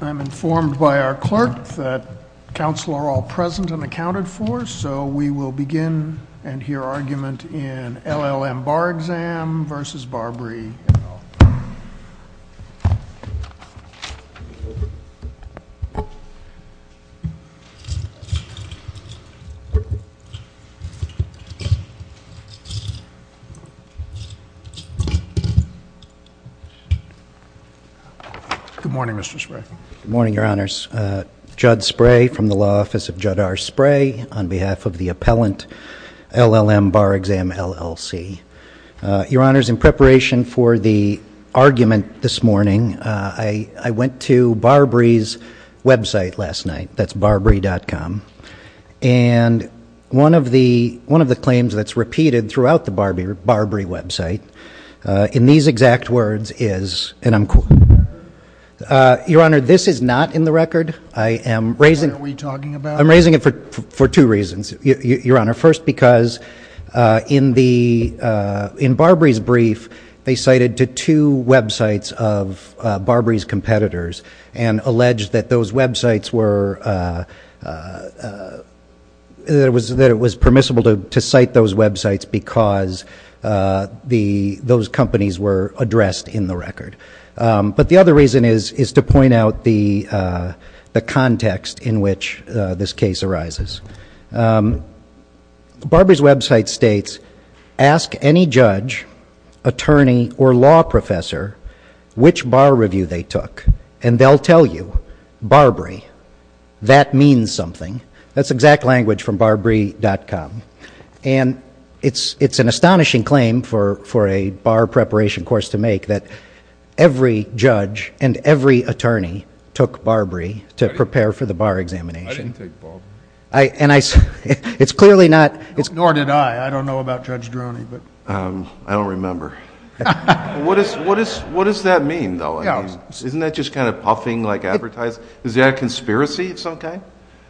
I'm informed by our clerk that counsel are all present and accounted for so we will begin and hear argument in LLM Bar Exam versus Barbri. Good morning, Mr. Spray. Good morning, Your Honors. Judd Spray from the Law Office of Judd R. Spray on behalf of the Appellant, LLM Bar Exam, LLC. Your Honors, in preparation for the argument this morning, I went to Barbri's website last night, that's barbri.com, and one of the claims that's repeated throughout the Barbri website, in these exact words is, and I'm, Your Honor, this is not in the record. I am raising it for two reasons, Your Honor. First, because in Barbri's brief, they cited to two websites of Barbri's competitors and alleged that those websites were, that it was permissible to cite those websites because those companies were addressed in the record. But the other reason is to point out the context in which this case arises. Barbri's website states, ask any judge, attorney, or law professor which bar review they took, and they'll tell you, Barbri, that means something. That's exact language from barbri.com. And it's an astonishing claim for a bar preparation course to make that every judge and every attorney took Barbri to prepare for the bar examination. I didn't take Barbri. And I, it's clearly not. Nor did I. I don't know about Judge Droney, but. I don't remember. What does that mean, though? I mean, isn't that just kind of puffing like advertising? Is that a conspiracy of some kind?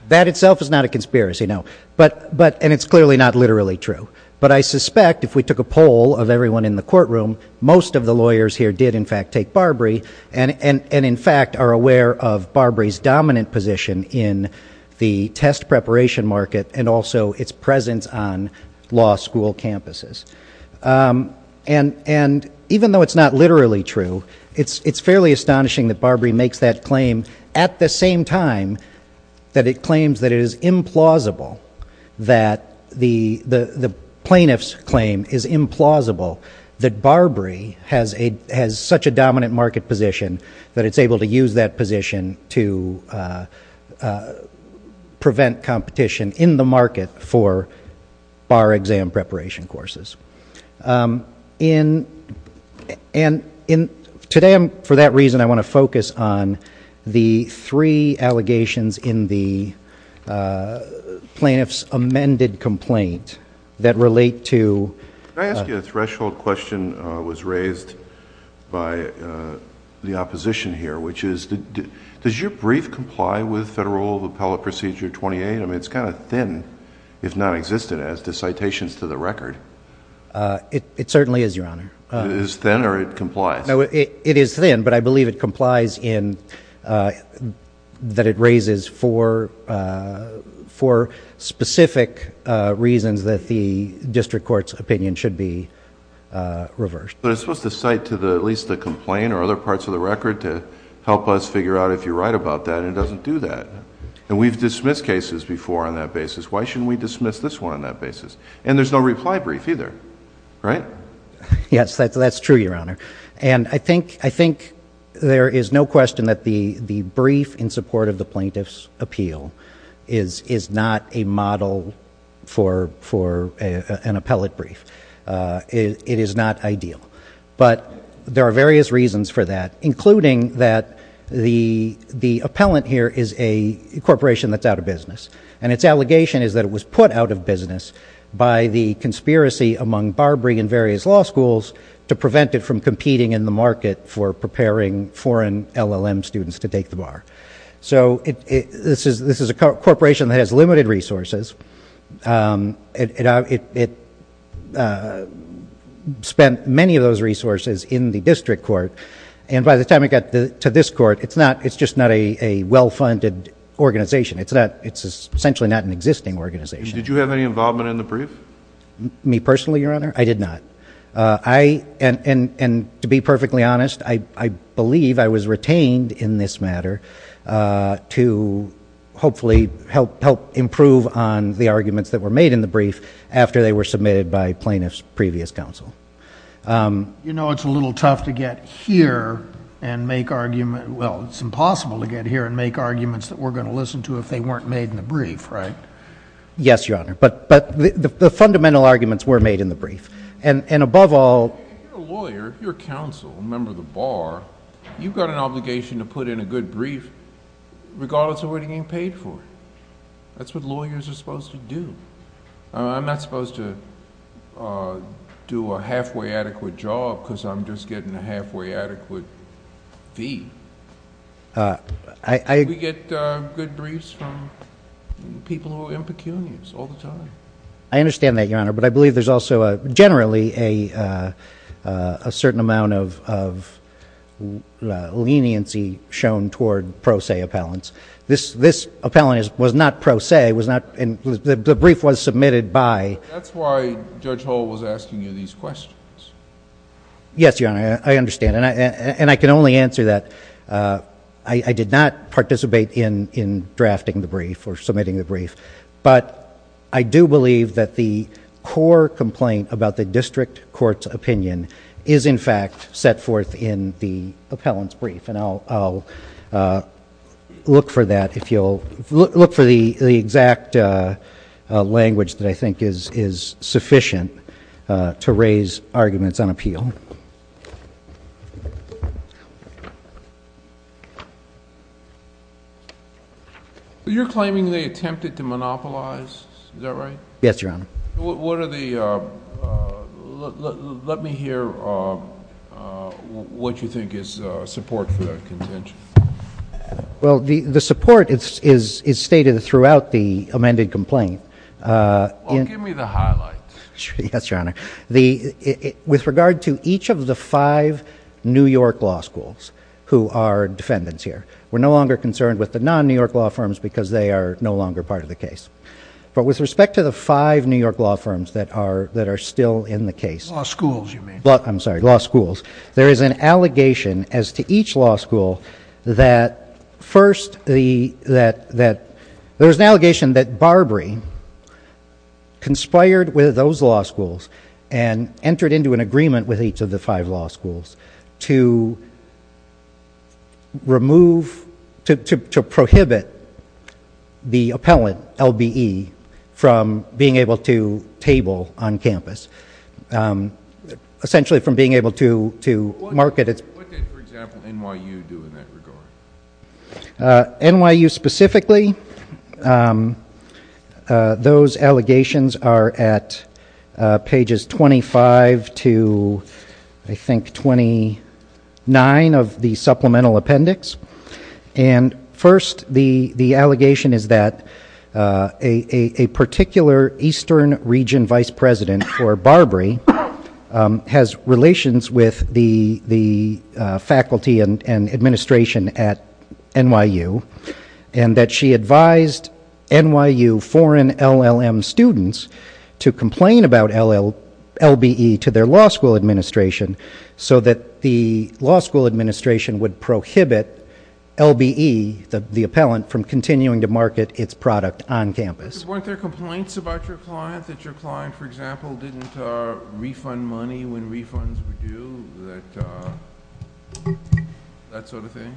That itself is not a conspiracy, no. But, and it's clearly not literally true. But I suspect if we took a poll of everyone in the courtroom, most of the lawyers here did in fact take Barbri, and in fact are aware of Barbri's dominant position in the test preparation market and also its presence on law school campuses. And even though it's not literally true, it's fairly astonishing that Barbri makes that claim at the same time that it claims that it is implausible that the plaintiff's claim is implausible that Barbri has such a dominant market position that it's able to use that position to prevent competition in the market for bar exam preparation courses. And today, for that reason, I want to focus on the three allegations in the plaintiff's amended complaint that relate to. Can I ask you a threshold question that was raised by the opposition here, which is, does your brief comply with Federal Appellate Procedure 28? I mean, it's kind of thin, if nonexistent, as to citations to the record. It certainly is, Your Honor. Is it thin or it complies? No, it is thin, but I believe it complies in that it raises four specific reasons that the district court's opinion should be reversed. But it's supposed to cite to at least the complaint or other parts of the record to help us figure out if you're right about that, and it doesn't do that. And we've dismissed cases before on that basis. Why shouldn't we dismiss this one on that basis? And there's no reply brief either, right? Yes, that's true, Your Honor. And I think there is no question that the brief in support of the plaintiff's appeal is not a model for an appellate brief. It is not ideal. But there are various reasons for that, including that the appellant here is a corporation that's out of business. And its allegation is that it was put out of business by the conspiracy among Barbary and various law schools to prevent it from competing in the market for preparing foreign LLM students to take the bar. So this is a corporation that has limited resources. It spent many of those resources in the district court. And by the time it got to this court, it's just not a well-funded organization. It's essentially not an existing organization. Did you have any involvement in the brief? Me personally, Your Honor? I did not. And to be perfectly honest, I believe I was retained in this matter to hopefully help improve on the arguments that were made in the brief after they were submitted by plaintiff's previous counsel. You know it's a little tough to get here and make arguments—well, it's impossible to get here and make arguments that we're going to listen to if they weren't made in the brief, right? Yes, Your Honor. But the fundamental arguments were made in the brief. And above all— You're a lawyer. You're a counsel, a member of the bar. You've got an obligation to put in a good brief regardless of what you're getting paid for. That's what lawyers are supposed to do. I'm not supposed to do a halfway adequate job because I'm just getting a halfway adequate fee. We get good briefs from people who are impecunious all the time. I understand that, Your Honor, but I believe there's also generally a certain amount of leniency shown toward pro se appellants. This appellant was not pro se. The brief was submitted by— That's why Judge Hull was asking you these questions. Yes, Your Honor. I understand. And I can only answer that. I did not participate in drafting the brief or submitting the brief. But I do believe that the core complaint about the district court's opinion is in fact set forth in the appellant's brief. And I'll look for that if you'll—look for the exact language that I think is sufficient to raise arguments on appeal. You're claiming they attempted to monopolize. Is that right? Yes, Your Honor. What are the—let me hear what you think is support for that contention. Well, the support is stated throughout the amended complaint. Well, give me the highlights. Yes, Your Honor. With regard to each of the five New York law schools who are defendants here, we're no longer concerned with the non-New York law firms because they are no longer part of the case. But with respect to the five New York law firms that are still in the case— Law schools, you mean. I'm sorry. Law schools. There is an allegation as to each law school that first the—that there was an allegation that Barbary conspired with those law schools and entered into an agreement with each of the five law schools to remove—to prohibit the appellant, LBE, from being able to table on campus. Essentially from being able to market its— What did, for example, NYU do in that regard? NYU specifically, those allegations are at pages 25 to, I think, 29 of the supplemental appendix. And first, the allegation is that a particular eastern region vice president for Barbary has relations with the faculty and administration at NYU and that she advised NYU foreign LLM students to complain about LBE to their law school administration so that the law school administration would prohibit LBE, the appellant, from continuing to market its product on campus. Weren't there complaints about your client that your client, for example, didn't refund money when refunds were due? That sort of thing?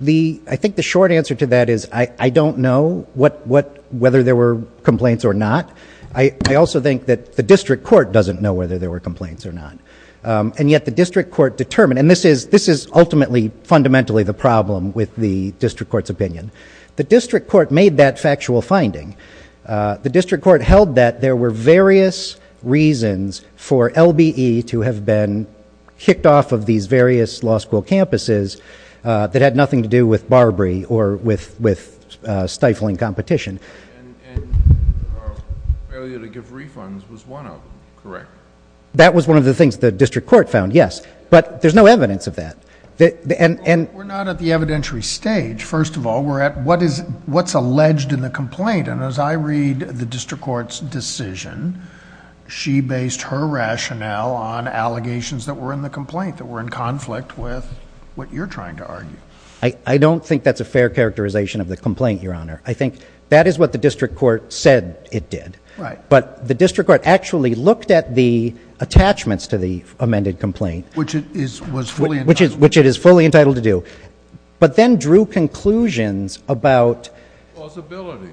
I think the short answer to that is I don't know whether there were complaints or not. I also think that the district court doesn't know whether there were complaints or not. And yet the district court determined—and this is ultimately, fundamentally the problem with the district court's opinion. The district court made that factual finding. The district court held that there were various reasons for LBE to have been kicked off of these various law school campuses that had nothing to do with Barbary or with stifling competition. And failure to give refunds was one of them, correct? That was one of the things the district court found, yes. But there's no evidence of that. We're not at the evidentiary stage. First of all, we're at what's alleged in the complaint. And as I read the district court's decision, she based her rationale on allegations that were in the complaint that were in conflict with what you're trying to argue. I don't think that's a fair characterization of the complaint, Your Honor. I think that is what the district court said it did. But the district court actually looked at the attachments to the amended complaint. Which it is fully entitled to do. But then drew conclusions about— Possibility.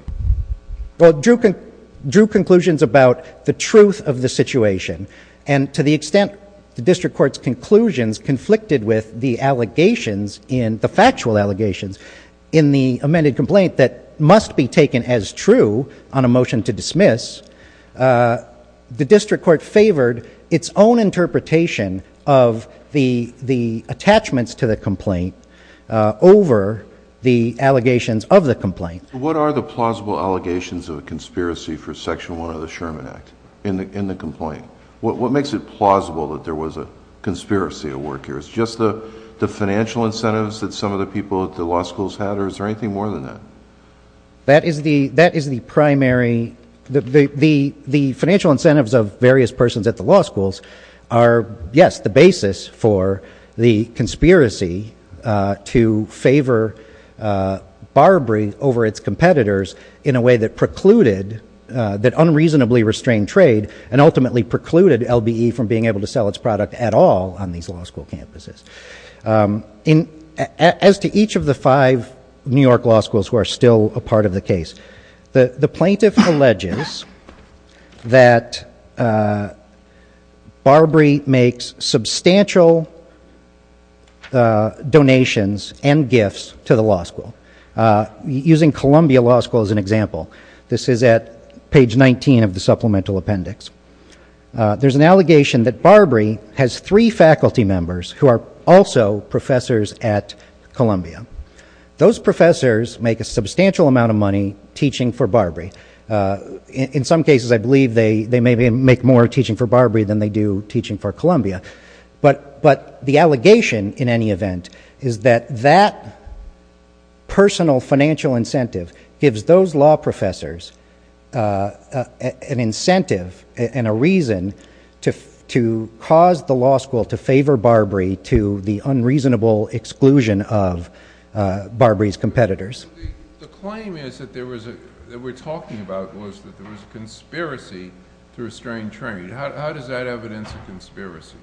Well, drew conclusions about the truth of the situation. And to the extent the district court's conclusions conflicted with the allegations in—the factual allegations in the amended complaint that must be taken as true on a motion to dismiss, the district court favored its own interpretation of the attachments to the complaint over the allegations of the complaint. What are the plausible allegations of a conspiracy for Section 1 of the Sherman Act in the complaint? What makes it plausible that there was a conspiracy at work here? Is it just the financial incentives that some of the people at the law schools had, or is there anything more than that? That is the primary—the financial incentives of various persons at the law schools are, yes, the basis for the conspiracy to favor BARBRI over its competitors in a way that precluded—that unreasonably restrained trade and ultimately precluded LBE from being able to sell its product at all on these law school campuses. As to each of the five New York law schools who are still a part of the case, the plaintiff alleges that BARBRI makes substantial donations and gifts to the law school. Using Columbia Law School as an example, this is at page 19 of the supplemental appendix. There's an allegation that BARBRI has three faculty members who are also professors at Columbia. Those professors make a substantial amount of money teaching for BARBRI. In some cases, I believe they maybe make more teaching for BARBRI than they do teaching for Columbia. But the allegation, in any event, is that that personal financial incentive gives those law professors an incentive and a reason to cause the law school to favor BARBRI to the unreasonable exclusion of BARBRI's competitors. The claim is that there was a—that we're talking about was that there was a conspiracy to restrain trade. How does that evidence a conspiracy?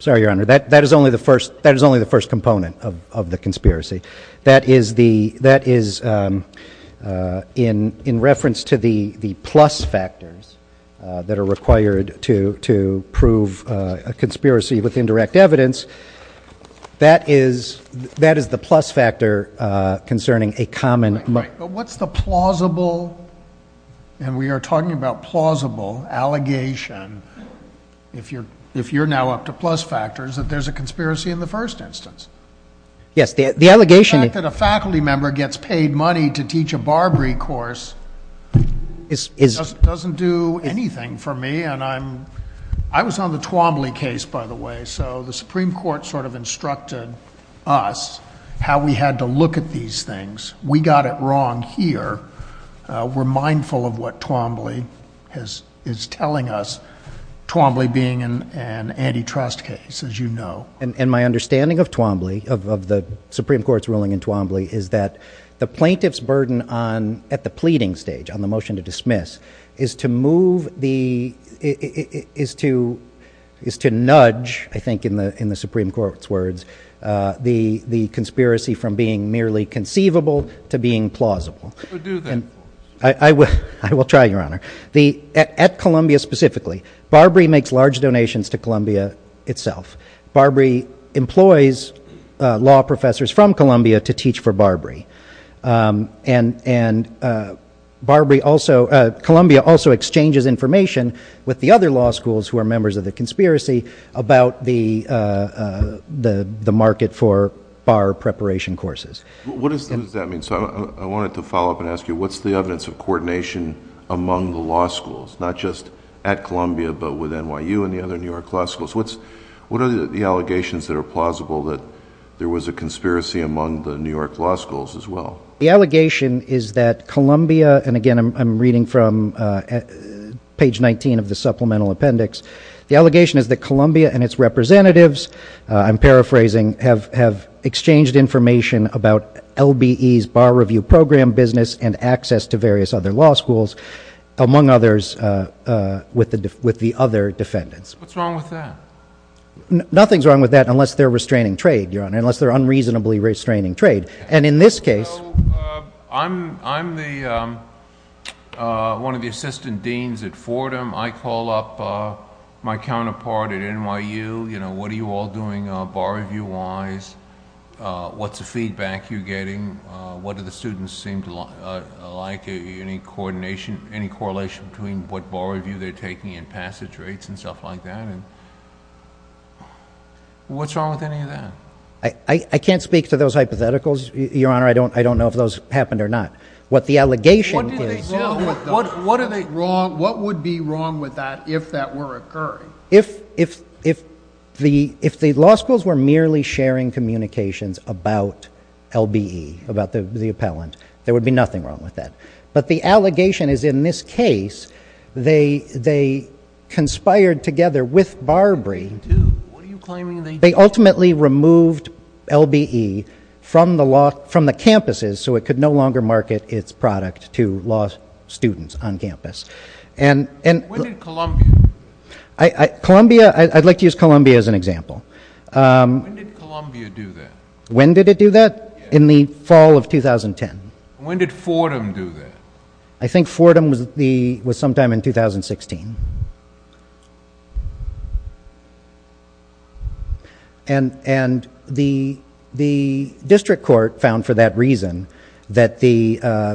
Sorry, Your Honor, that is only the first component of the conspiracy. That is the—that is in reference to the plus factors that are required to prove a conspiracy with indirect evidence. That is—that is the plus factor concerning a common— But what's the plausible—and we are talking about plausible—allegation, if you're now up to plus factors, that there's a conspiracy in the first instance? Yes, the allegation— The fact that a faculty member gets paid money to teach a BARBRI course doesn't do anything for me. I was on the Twombly case, by the way, so the Supreme Court sort of instructed us how we had to look at these things. We got it wrong here. We're mindful of what Twombly is telling us, Twombly being an antitrust case, as you know. And my understanding of Twombly, of the Supreme Court's ruling in Twombly, is that the plaintiff's burden on—at the pleading stage, on the motion to dismiss, is to move the—is to—is to nudge, I think in the Supreme Court's words, the conspiracy from being merely conceivable to being plausible. So do the— I will try, Your Honor. At Columbia specifically, BARBRI makes large donations to Columbia itself. BARBRI employs law professors from Columbia to teach for BARBRI. And BARBRI also—Columbia also exchanges information with the other law schools who are members of the conspiracy about the market for BAR preparation courses. What does that mean? So I wanted to follow up and ask you, what's the evidence of coordination among the law schools, not just at Columbia but with NYU and the other New York law schools? What's—what are the allegations that are plausible that there was a conspiracy among the New York law schools as well? The allegation is that Columbia—and again, I'm reading from page 19 of the supplemental appendix. The allegation is that Columbia and its representatives, I'm paraphrasing, have exchanged information about LBE's BAR review program business and access to various other law schools, among others, with the other defendants. What's wrong with that? Nothing's wrong with that unless they're restraining trade, Your Honor, unless they're unreasonably restraining trade. And in this case— I'm the—one of the assistant deans at Fordham. I call up my counterpart at NYU, you know, what are you all doing BAR review-wise? What's the feedback you're getting? What do the students seem to like? Any coordination, any correlation between what BAR review they're taking and passage rates and stuff like that? What's wrong with any of that? I can't speak to those hypotheticals, Your Honor. I don't know if those happened or not. What the allegation is— What are they wrong—what would be wrong with that if that were occurring? If the law schools were merely sharing communications about LBE, about the appellant, there would be nothing wrong with that. But the allegation is in this case they conspired together with BARBRI. They ultimately removed LBE from the campuses so it could no longer market its product to law students on campus. And— When did Columbia— Columbia—I'd like to use Columbia as an example. When did Columbia do that? When did it do that? In the fall of 2010. When did Fordham do that? I think Fordham was sometime in 2016. And the district court found for that reason that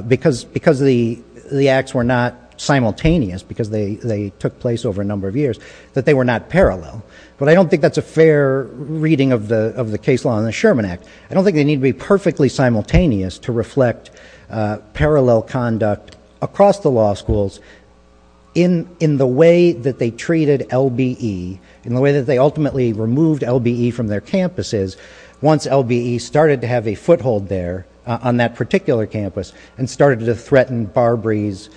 because the acts were not simultaneous, because they took place over a number of years, that they were not parallel. But I don't think that's a fair reading of the case law in the Sherman Act. I don't think they need to be perfectly simultaneous to reflect parallel conduct across the law schools in the way that they treated LBE, in the way that they ultimately removed LBE from their campuses once LBE started to have a foothold there on that particular campus and started to threaten BARBRI's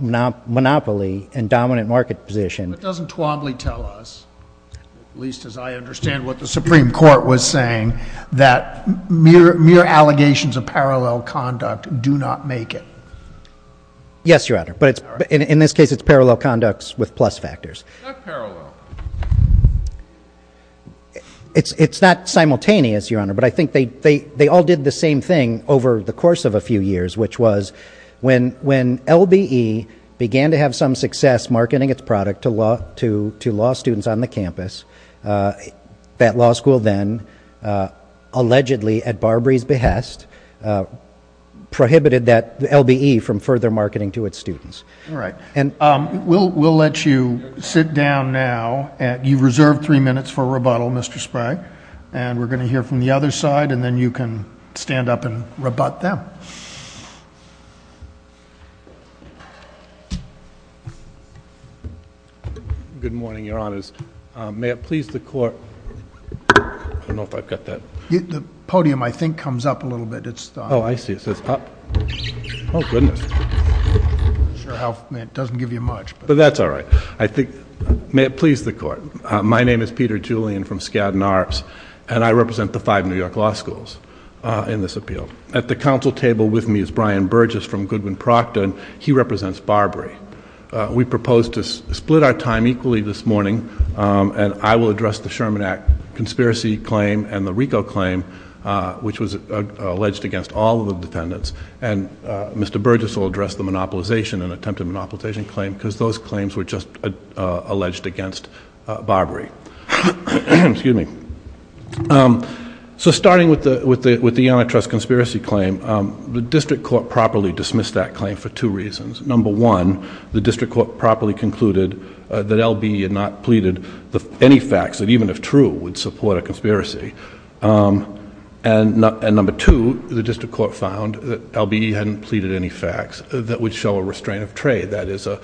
monopoly and dominant market position. But doesn't Twombly tell us, at least as I understand what the Supreme Court was saying, that mere allegations of parallel conduct do not make it? Yes, Your Honor, but in this case it's parallel conducts with plus factors. Not parallel. It's not simultaneous, Your Honor, but I think they all did the same thing over the course of a few years, which was when LBE began to have some success marketing its product to law students on the campus, that law school then allegedly, at BARBRI's behest, prohibited LBE from further marketing to its students. All right. We'll let you sit down now. You've reserved three minutes for rebuttal, Mr. Sprague. And we're going to hear from the other side, and then you can stand up and rebut them. Good morning, Your Honors. May it please the Court. I don't know if I've got that. The podium, I think, comes up a little bit. Oh, I see. It says up. Oh, goodness. It doesn't give you much. But that's all right. May it please the Court. My name is Peter Julian from Skadden Arts, and I represent the five New York law schools in this appeal. At the council table with me is Brian Burgess from Goodwin Procter, and he represents BARBRI. We propose to split our time equally this morning, and I will address the Sherman Act conspiracy claim and the RICO claim, which was alleged against all of the defendants. And Mr. Burgess will address the monopolization and attempted monopolization claim, because those claims were just alleged against BARBRI. So starting with the Yonitrus conspiracy claim, the district court properly dismissed that claim for two reasons. Number one, the district court properly concluded that LBE had not pleaded any facts that even if true would support a conspiracy. And number two, the district court found that LBE hadn't pleaded any facts that would show a restraint of trade. That is a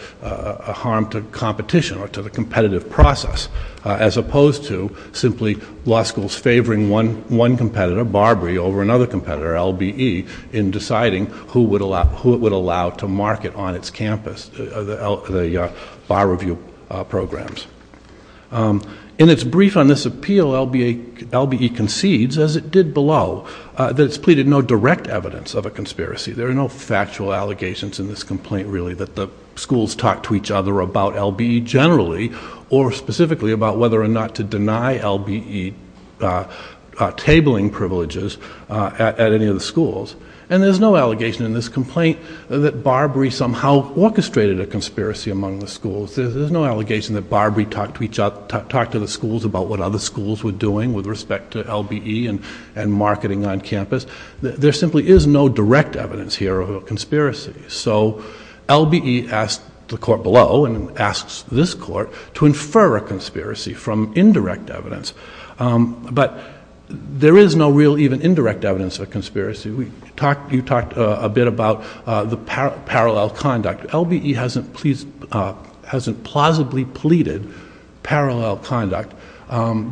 harm to competition or to the competitive process, as opposed to simply law schools favoring one competitor, BARBRI, over another competitor, LBE, in deciding who it would allow to market on its campus, the bar review programs. In its brief on this appeal, LBE concedes, as it did below, that it's pleaded no direct evidence of a conspiracy. There are no factual allegations in this complaint, really, that the schools talked to each other about LBE generally, or specifically about whether or not to deny LBE tabling privileges at any of the schools. And there's no allegation in this complaint that BARBRI somehow orchestrated a conspiracy among the schools. There's no allegation that BARBRI talked to the schools about what other schools were doing with respect to LBE and marketing on campus. There simply is no direct evidence here of a conspiracy. So LBE asked the court below, and asks this court, to infer a conspiracy from indirect evidence. But there is no real even indirect evidence of a conspiracy. You talked a bit about the parallel conduct. LBE hasn't plausibly pleaded parallel conduct,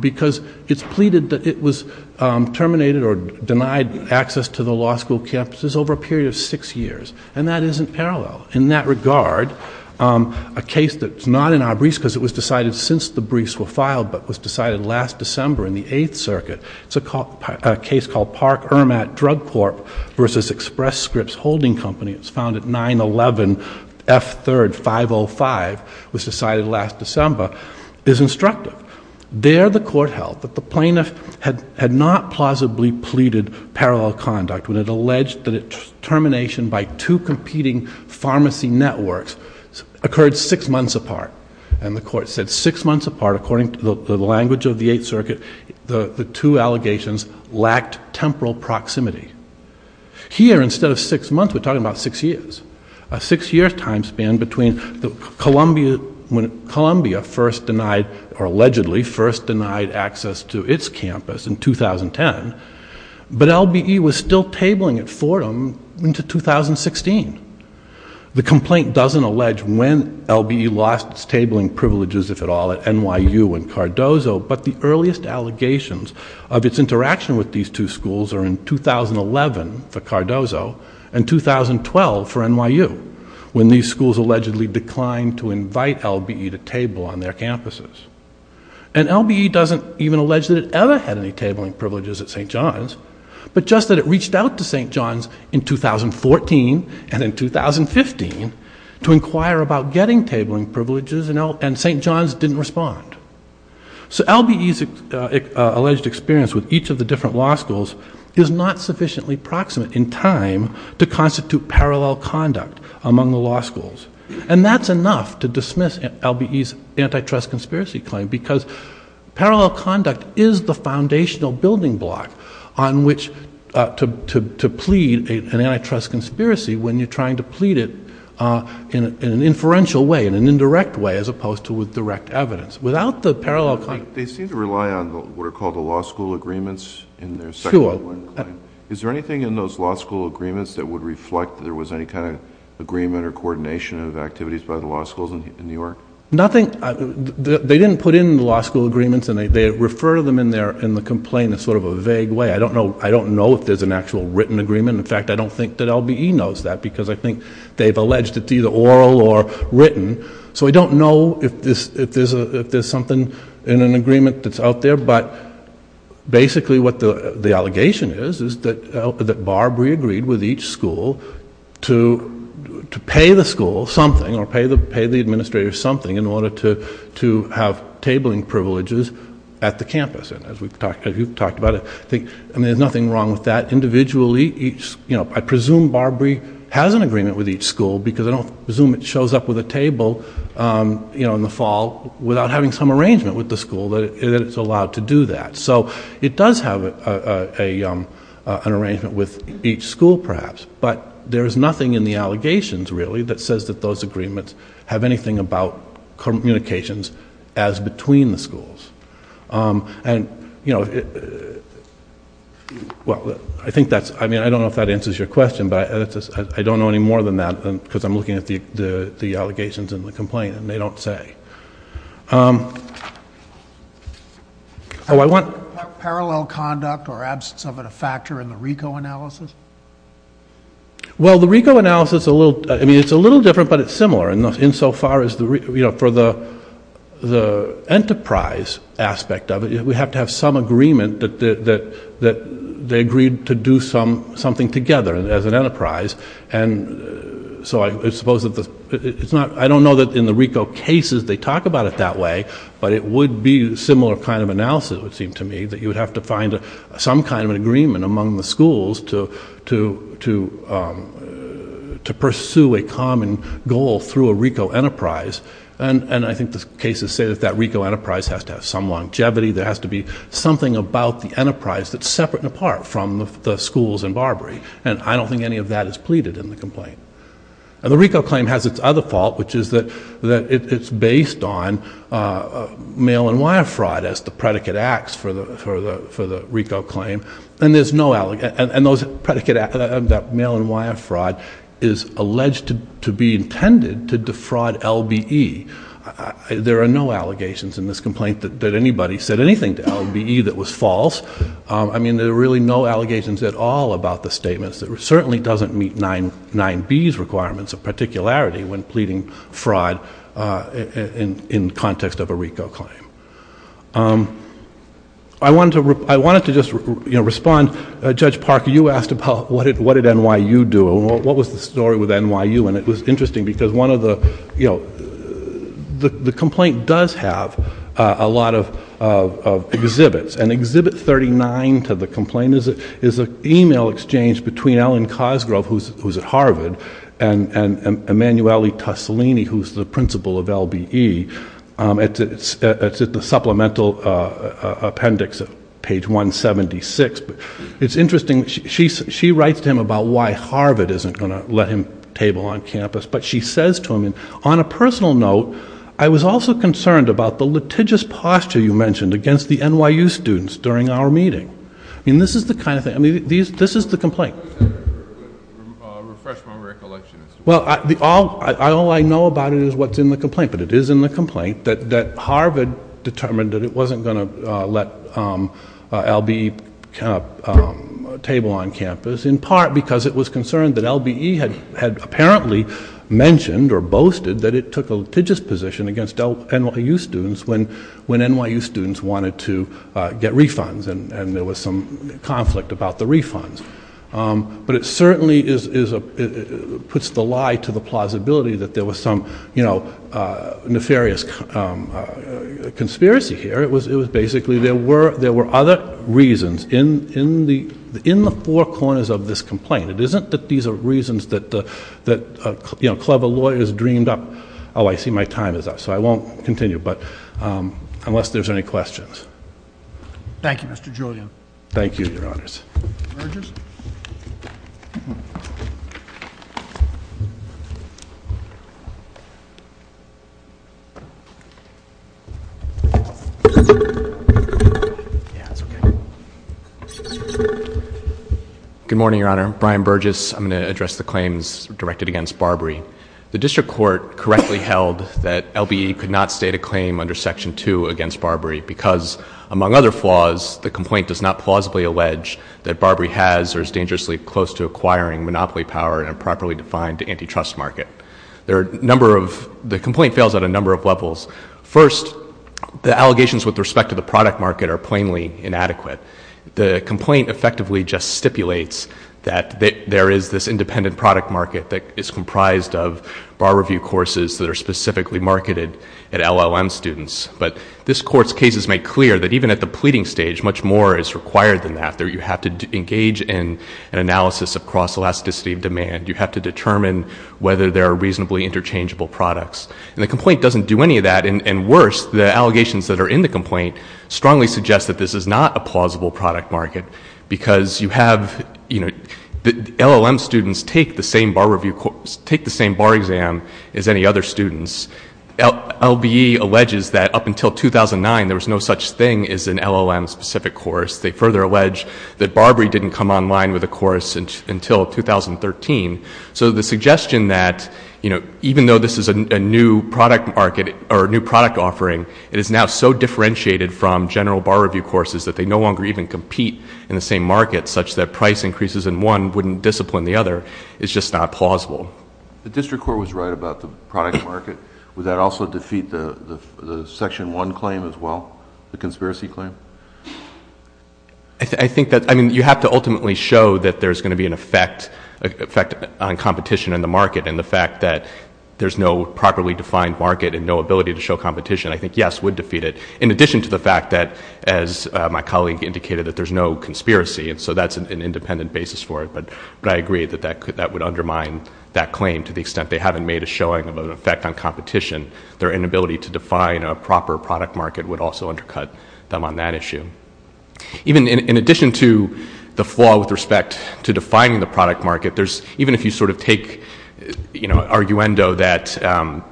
because it's pleaded that it was terminated or denied access to the law school campuses over a period of six years. And that isn't parallel. In that regard, a case that's not in our briefs, because it was decided since the briefs were filed, but was decided last December in the Eighth Circuit, it's a case called Park-Ermat Drug Corp versus Express Scripts Holding Company. It's found at 911 F3rd 505. It was decided last December. It's instructive. There the court held that the plaintiff had not plausibly pleaded parallel conduct when it alleged that termination by two competing pharmacy networks occurred six months apart. And the court said six months apart, according to the language of the Eighth Circuit, the two allegations lacked temporal proximity. Here, instead of six months, we're talking about six years. A six-year time span between when Columbia first denied, or allegedly first denied, access to its campus in 2010, but LBE was still tabling it for them into 2016. The complaint doesn't allege when LBE lost its tabling privileges, if at all, at NYU and Cardozo, but the earliest allegations of its interaction with these two schools are in 2011 for Cardozo and 2012 for NYU, when these schools allegedly declined to invite LBE to table on their campuses. And LBE doesn't even allege that it ever had any tabling privileges at St. John's, but just that it reached out to St. John's in 2014 and in 2015 to inquire about getting tabling privileges, and St. John's didn't respond. So LBE's alleged experience with each of the different law schools is not sufficiently proximate in time to constitute parallel conduct among the law schools. And that's enough to dismiss LBE's antitrust conspiracy claim, because parallel conduct is the foundational building block on which to plead an antitrust conspiracy when you're trying to plead it in an inferential way, in an indirect way, as opposed to with direct evidence. Without the parallel conduct... They seem to rely on what are called the law school agreements in their second law claim. Is there anything in those law school agreements that would reflect that there was any kind of agreement or coordination of activities by the law schools in New York? Nothing. They didn't put in the law school agreements, and they refer to them in the complaint in sort of a vague way. I don't know if there's an actual written agreement. In fact, I don't think that LBE knows that, because I think they've alleged it's either oral or written. So I don't know if there's something in an agreement that's out there, but basically what the allegation is is that Barb re-agreed with each school to pay the school something or pay the administrator something in order to have tabling privileges at the campus. As we've talked about, I think there's nothing wrong with that. Individually, I presume Barb re-has an agreement with each school, because I don't presume it shows up with a table in the fall without having some arrangement with the school that it's allowed to do that. So it does have an arrangement with each school, perhaps, but there is nothing in the allegations, really, that says that those agreements have anything about communications as between the schools. I don't know if that answers your question, but I don't know any more than that, because I'm looking at the allegations in the complaint, and they don't say. Oh, I want... Parallel conduct or absence of a factor in the RICO analysis? Well, the RICO analysis, I mean, it's a little different, but it's similar, insofar as for the enterprise aspect of it, we have to have some agreement that they agreed to do something together as an enterprise. And so I suppose that it's not... I don't know that in the RICO cases they talk about it that way, but it would be a similar kind of analysis, it would seem to me, that you would have to find some kind of an agreement among the schools to pursue a common goal through a RICO enterprise. And I think the cases say that that RICO enterprise has to have some longevity. There has to be something about the enterprise that's separate and apart from the schools in Barbary. And I don't think any of that is pleaded in the complaint. And the RICO claim has its other fault, which is that it's based on mail and wire fraud as the predicate acts for the RICO claim. And those predicate acts, that mail and wire fraud, is alleged to be intended to defraud LBE. There are no allegations in this complaint that anybody said anything to LBE that was false. I mean, there are really no allegations at all about the statements. It certainly doesn't meet 9B's requirements of particularity when pleading fraud in context of a RICO claim. I wanted to just respond. Judge Parker, you asked about what did NYU do and what was the story with NYU. And it was interesting because one of the... NYU does have a lot of exhibits. And Exhibit 39 to the complaint is an e-mail exchange between Ellen Cosgrove, who's at Harvard, and Emanuele Tosolini, who's the principal of LBE. It's at the supplemental appendix at page 176. It's interesting. She writes to him about why Harvard isn't going to let him table on campus. But she says to him, on a personal note, I was also concerned about the litigious posture you mentioned against the NYU students during our meeting. I mean, this is the kind of thing. I mean, this is the complaint. Refresh my recollection. Well, all I know about it is what's in the complaint. But it is in the complaint that Harvard determined that it wasn't going to let LBE table on campus, in part because it was concerned that LBE had apparently mentioned or boasted that it took a litigious position against NYU students when NYU students wanted to get refunds and there was some conflict about the refunds. But it certainly puts the lie to the plausibility that there was some nefarious conspiracy here. It was basically there were other reasons. It's in the four corners of this complaint. It isn't that these are reasons that clever lawyers dreamed up. Oh, I see my time is up. So I won't continue unless there's any questions. Thank you, Mr. Julian. Thank you, Your Honors. Good morning, Your Honor. Brian Burgess. I'm going to address the claims directed against Barbary. The district court correctly held that LBE could not state a claim under Section 2 against Barbary because, among other flaws, the complaint does not plausibly allege that Barbary has or is dangerously close to acquiring monopoly power in a properly defined antitrust market. The complaint fails on a number of levels. First, the allegations with respect to the product market are plainly inadequate. The complaint effectively just stipulates that there is this independent product market that is comprised of bar review courses that are specifically marketed at LLM students. But this Court's cases make clear that even at the pleading stage, much more is required than that. You have to engage in an analysis of cross-elasticity of demand. You have to determine whether there are reasonably interchangeable products. And the complaint doesn't do any of that. And worse, the allegations that are in the complaint strongly suggest that this is not a plausible product market because LLM students take the same bar exam as any other students. LBE alleges that up until 2009, there was no such thing as an LLM-specific course. They further allege that Barbary didn't come online with a course until 2013. So the suggestion that, you know, even though this is a new product market or a new product offering, it is now so differentiated from general bar review courses that they no longer even compete in the same market such that price increases in one wouldn't discipline the other is just not plausible. The district court was right about the product market. Would that also defeat the Section 1 claim as well, the conspiracy claim? I think that, I mean, you have to ultimately show that there's going to be an effect on competition in the market and the fact that there's no properly defined market and no ability to show competition, I think, yes, would defeat it. In addition to the fact that, as my colleague indicated, that there's no conspiracy, and so that's an independent basis for it, but I agree that that would undermine that claim to the extent they haven't made a showing of an effect on competition. Their inability to define a proper product market would also undercut them on that issue. Even in addition to the flaw with respect to defining the product market, there's, even if you sort of take, you know, arguendo that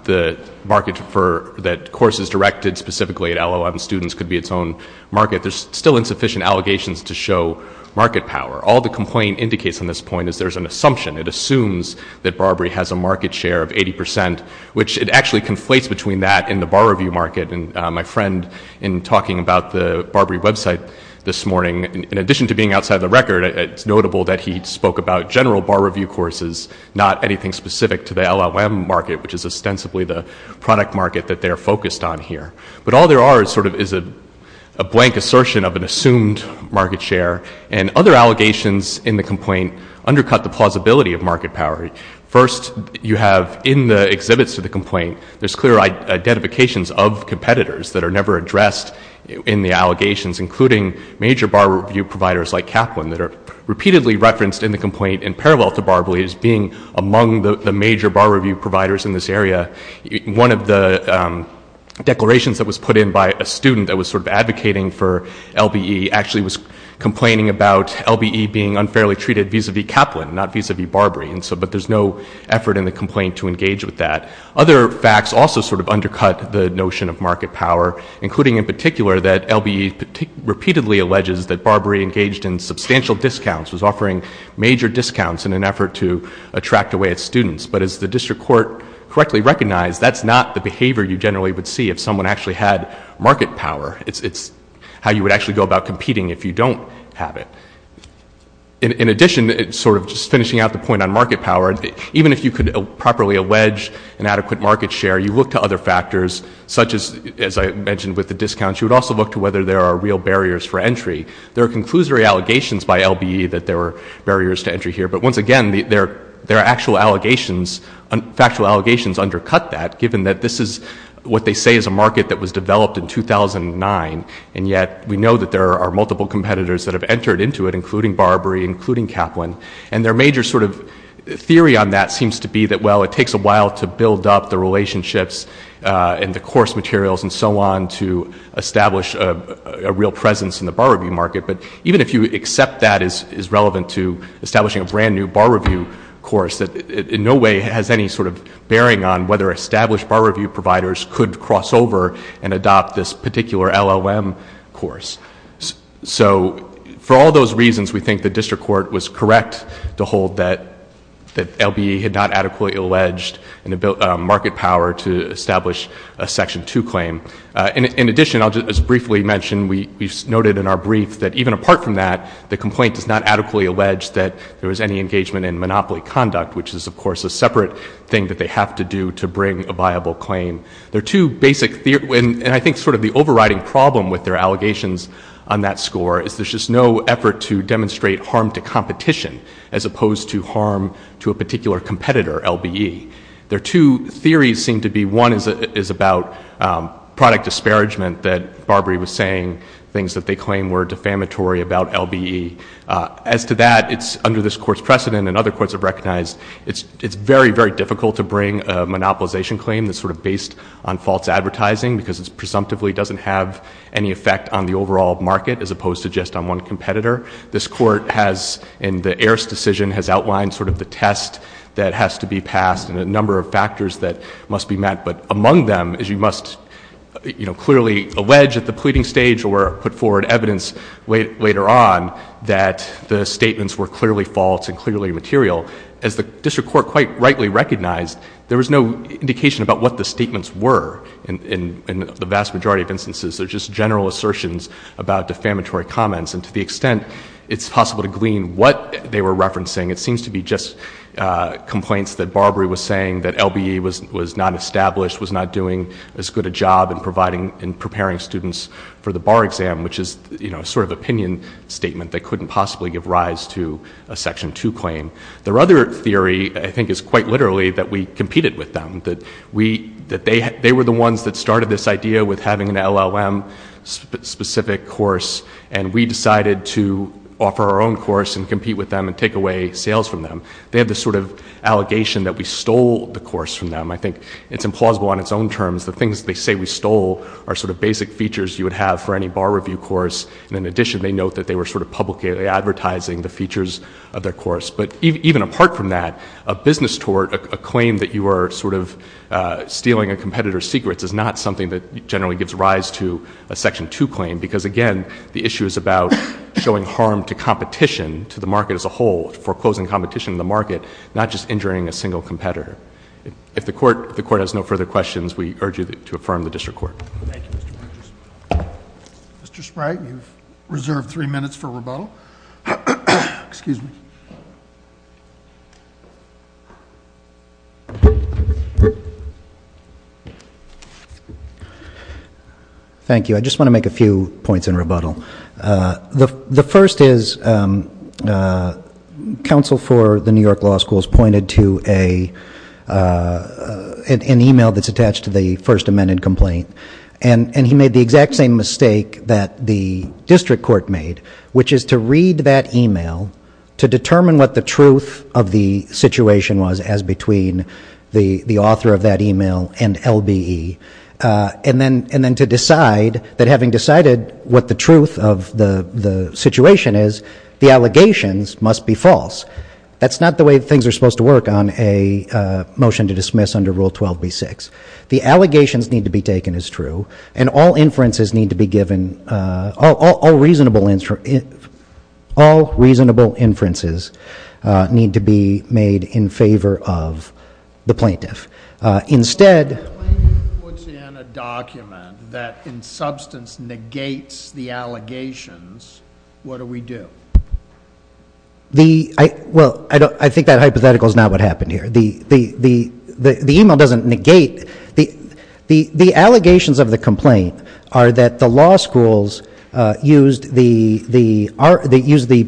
the market for, that courses directed specifically at LLM students could be its own market, there's still insufficient allegations to show market power. All the complaint indicates on this point is there's an assumption. It assumes that Barbary has a market share of 80 percent, which it actually conflates between that and the bar review market. And my friend, in talking about the Barbary website this morning, in addition to being outside the record, it's notable that he spoke about general bar review courses, not anything specific to the LLM market, which is ostensibly the product market that they're focused on here. But all there are is sort of is a blank assertion of an assumed market share. And other allegations in the complaint undercut the plausibility of market power. First, you have in the exhibits of the complaint, there's clear identifications of competitors that are never addressed in the allegations, including major bar review providers like Kaplan that are repeatedly referenced in the complaint in parallel to Barbary as being among the major bar review providers in this area. One of the declarations that was put in by a student that was sort of advocating for LBE actually was complaining about LBE being unfairly treated vis-a-vis Kaplan, not vis-a-vis Barbary. But there's no effort in the complaint to engage with that. Other facts also sort of undercut the notion of market power, including in particular that LBE repeatedly alleges that Barbary engaged in substantial discounts, was offering major discounts in an effort to attract away its students. But as the district court correctly recognized, that's not the behavior you generally would see if someone actually had market power. It's how you would actually go about competing if you don't have it. In addition, sort of just finishing out the point on market power, even if you could properly allege an adequate market share, you look to other factors, such as, as I mentioned with the discounts, you would also look to whether there are real barriers for entry. There are conclusory allegations by LBE that there were barriers to entry here. But once again, their actual allegations, factual allegations undercut that, given that this is what they say is a market that was developed in 2009, and yet we know that there are multiple competitors that have entered into it, including Barbary, including Kaplan. And their major sort of theory on that seems to be that, well, it takes a while to build up the relationships and the course materials and so on to establish a real presence in the Barbary market. But even if you accept that as relevant to establishing a brand-new bar review course, it in no way has any sort of bearing on whether established bar review providers could cross over and adopt this particular LLM course. So for all those reasons, we think the district court was correct to hold that LBE had not adequately alleged market power to establish a Section 2 claim. In addition, I'll just briefly mention, we've noted in our brief that even apart from that, the complaint does not adequately allege that there was any engagement in monopoly conduct, which is, of course, a separate thing that they have to do to bring a viable claim. There are two basic, and I think sort of the overriding problem with their allegations on that score is there's just no effort to demonstrate harm to competition as opposed to harm to a particular competitor, LBE. There are two theories seem to be. One is about product disparagement that Barbary was saying, things that they claim were defamatory about LBE. As to that, it's under this Court's precedent, and other courts have recognized it's very, very difficult to bring a monopolization claim that's sort of based on false advertising because it presumptively doesn't have any effect on the overall market as opposed to just on one competitor. This Court has, in the Heer's decision, has outlined sort of the test that has to be passed and a number of factors that must be met. But among them is you must, you know, clearly allege at the pleading stage or put forward evidence later on that the statements were clearly false and clearly material. As the district court quite rightly recognized, there was no indication about what the statements were. In the vast majority of instances, they're just general assertions about defamatory comments. And to the extent it's possible to glean what they were referencing, it seems to be just complaints that Barbary was saying that LBE was not established, was not doing as good a job in providing and preparing students for the bar exam, which is, you know, a sort of opinion statement that couldn't possibly give rise to a Section 2 claim. Their other theory, I think, is quite literally that we competed with them, that they were the ones that started this idea with having an LLM-specific course, and we decided to offer our own course and compete with them and take away sales from them. They have this sort of allegation that we stole the course from them. I think it's implausible on its own terms. The things they say we stole are sort of basic features you would have for any bar review course. And in addition, they note that they were sort of publicly advertising the features of their course. But even apart from that, a business tort, a claim that you were sort of stealing a competitor's secrets is not something that generally gives rise to a Section 2 claim because, again, the issue is about showing harm to competition, to the market as a whole, foreclosing competition in the market, not just injuring a single competitor. If the Court has no further questions, we urge you to affirm the district court. Thank you, Mr. Bridges. Mr. Sprague, you've reserved three minutes for rebuttal. Excuse me. Thank you. I just want to make a few points in rebuttal. The first is counsel for the New York Law School has pointed to an e-mail that's attached to the First Amendment complaint. And he made the exact same mistake that the district court made, which is to read that e-mail, to determine what the truth of the situation was as between the author of that e-mail and LBE, and then to decide that having decided what the truth of the situation is, the allegations must be false. That's not the way things are supposed to work on a motion to dismiss under Rule 12b-6. The allegations need to be taken as true, and all inferences need to be given, all reasonable inferences need to be made in favor of the plaintiff. If the plaintiff puts in a document that in substance negates the allegations, what do we do? Well, I think that hypothetical is not what happened here. The e-mail doesn't negate. The allegations of the complaint are that the law schools used the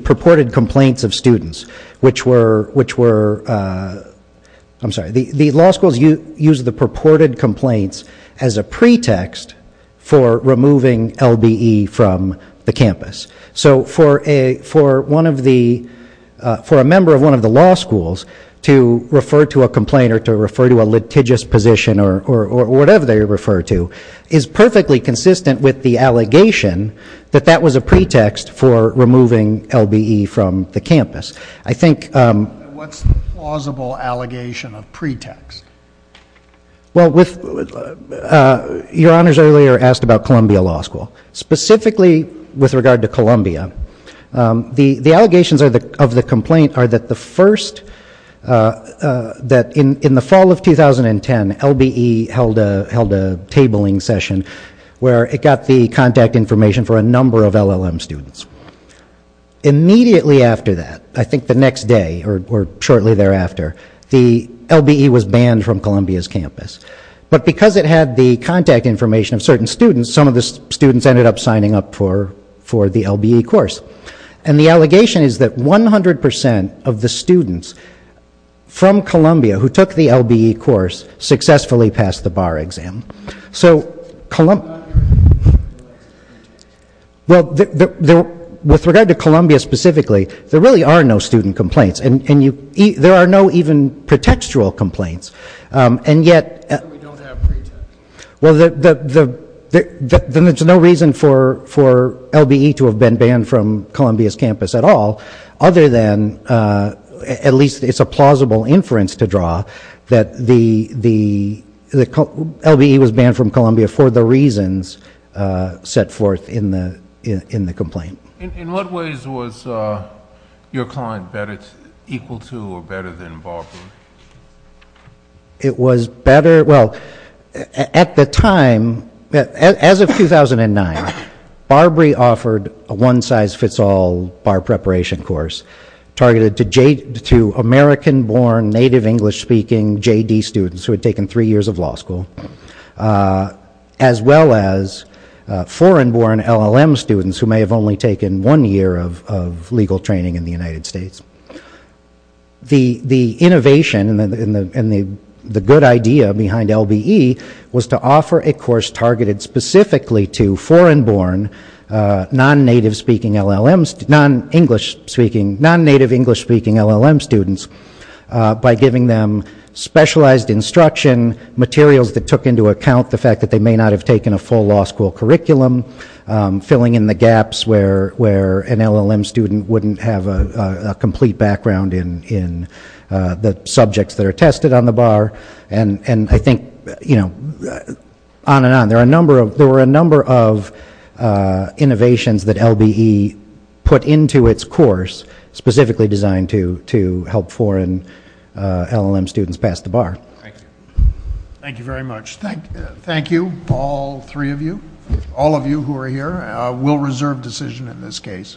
purported complaints of students, which were, I'm sorry, the law schools used the purported complaints as a pretext for removing LBE from the campus. So for a member of one of the law schools to refer to a complaint or to refer to a litigious position or whatever they refer to, is perfectly consistent with the allegation that that was a pretext for removing LBE from the campus. I think... What's the plausible allegation of pretext? Well, your honors earlier asked about Columbia Law School. Specifically with regard to Columbia, the allegations of the complaint are that the first, that in the fall of 2010, LBE held a tabling session where it got the contact information for a number of LLM students. Immediately after that, I think the next day or shortly thereafter, the LBE was banned from Columbia's campus. But because it had the contact information of certain students, some of the students ended up signing up for the LBE course. And the allegation is that 100% of the students from Columbia who took the LBE course successfully passed the bar exam. So Columbia... Well, with regard to Columbia specifically, there really are no student complaints. And there are no even pretextual complaints. And yet... We don't have pretext. Well, there's no reason for LBE to have been banned from Columbia's campus at all, other than at least it's a plausible inference to draw that the LBE was banned from Columbia for the reasons set forth in the complaint. In what ways was your client better, equal to or better than Barbary? It was better... Well, at the time, as of 2009, Barbary offered a one-size-fits-all bar preparation course targeted to American-born native English-speaking JD students who had taken three years of law school, as well as foreign-born LLM students who may have only taken one year of legal training in the United States. The innovation and the good idea behind LBE was to offer a course targeted specifically to foreign-born non-native English-speaking LLM students by giving them specialized instruction, materials that took into account the fact that they may not have taken a full law school curriculum, filling in the gaps where an LLM student wouldn't have a complete background in the subjects that are tested on the bar, and I think on and on. There were a number of innovations that LBE put into its course specifically designed to help foreign LLM students pass the bar. Thank you. Thank you very much. Thank you, all three of you, all of you who are here. We'll reserve decision in this case.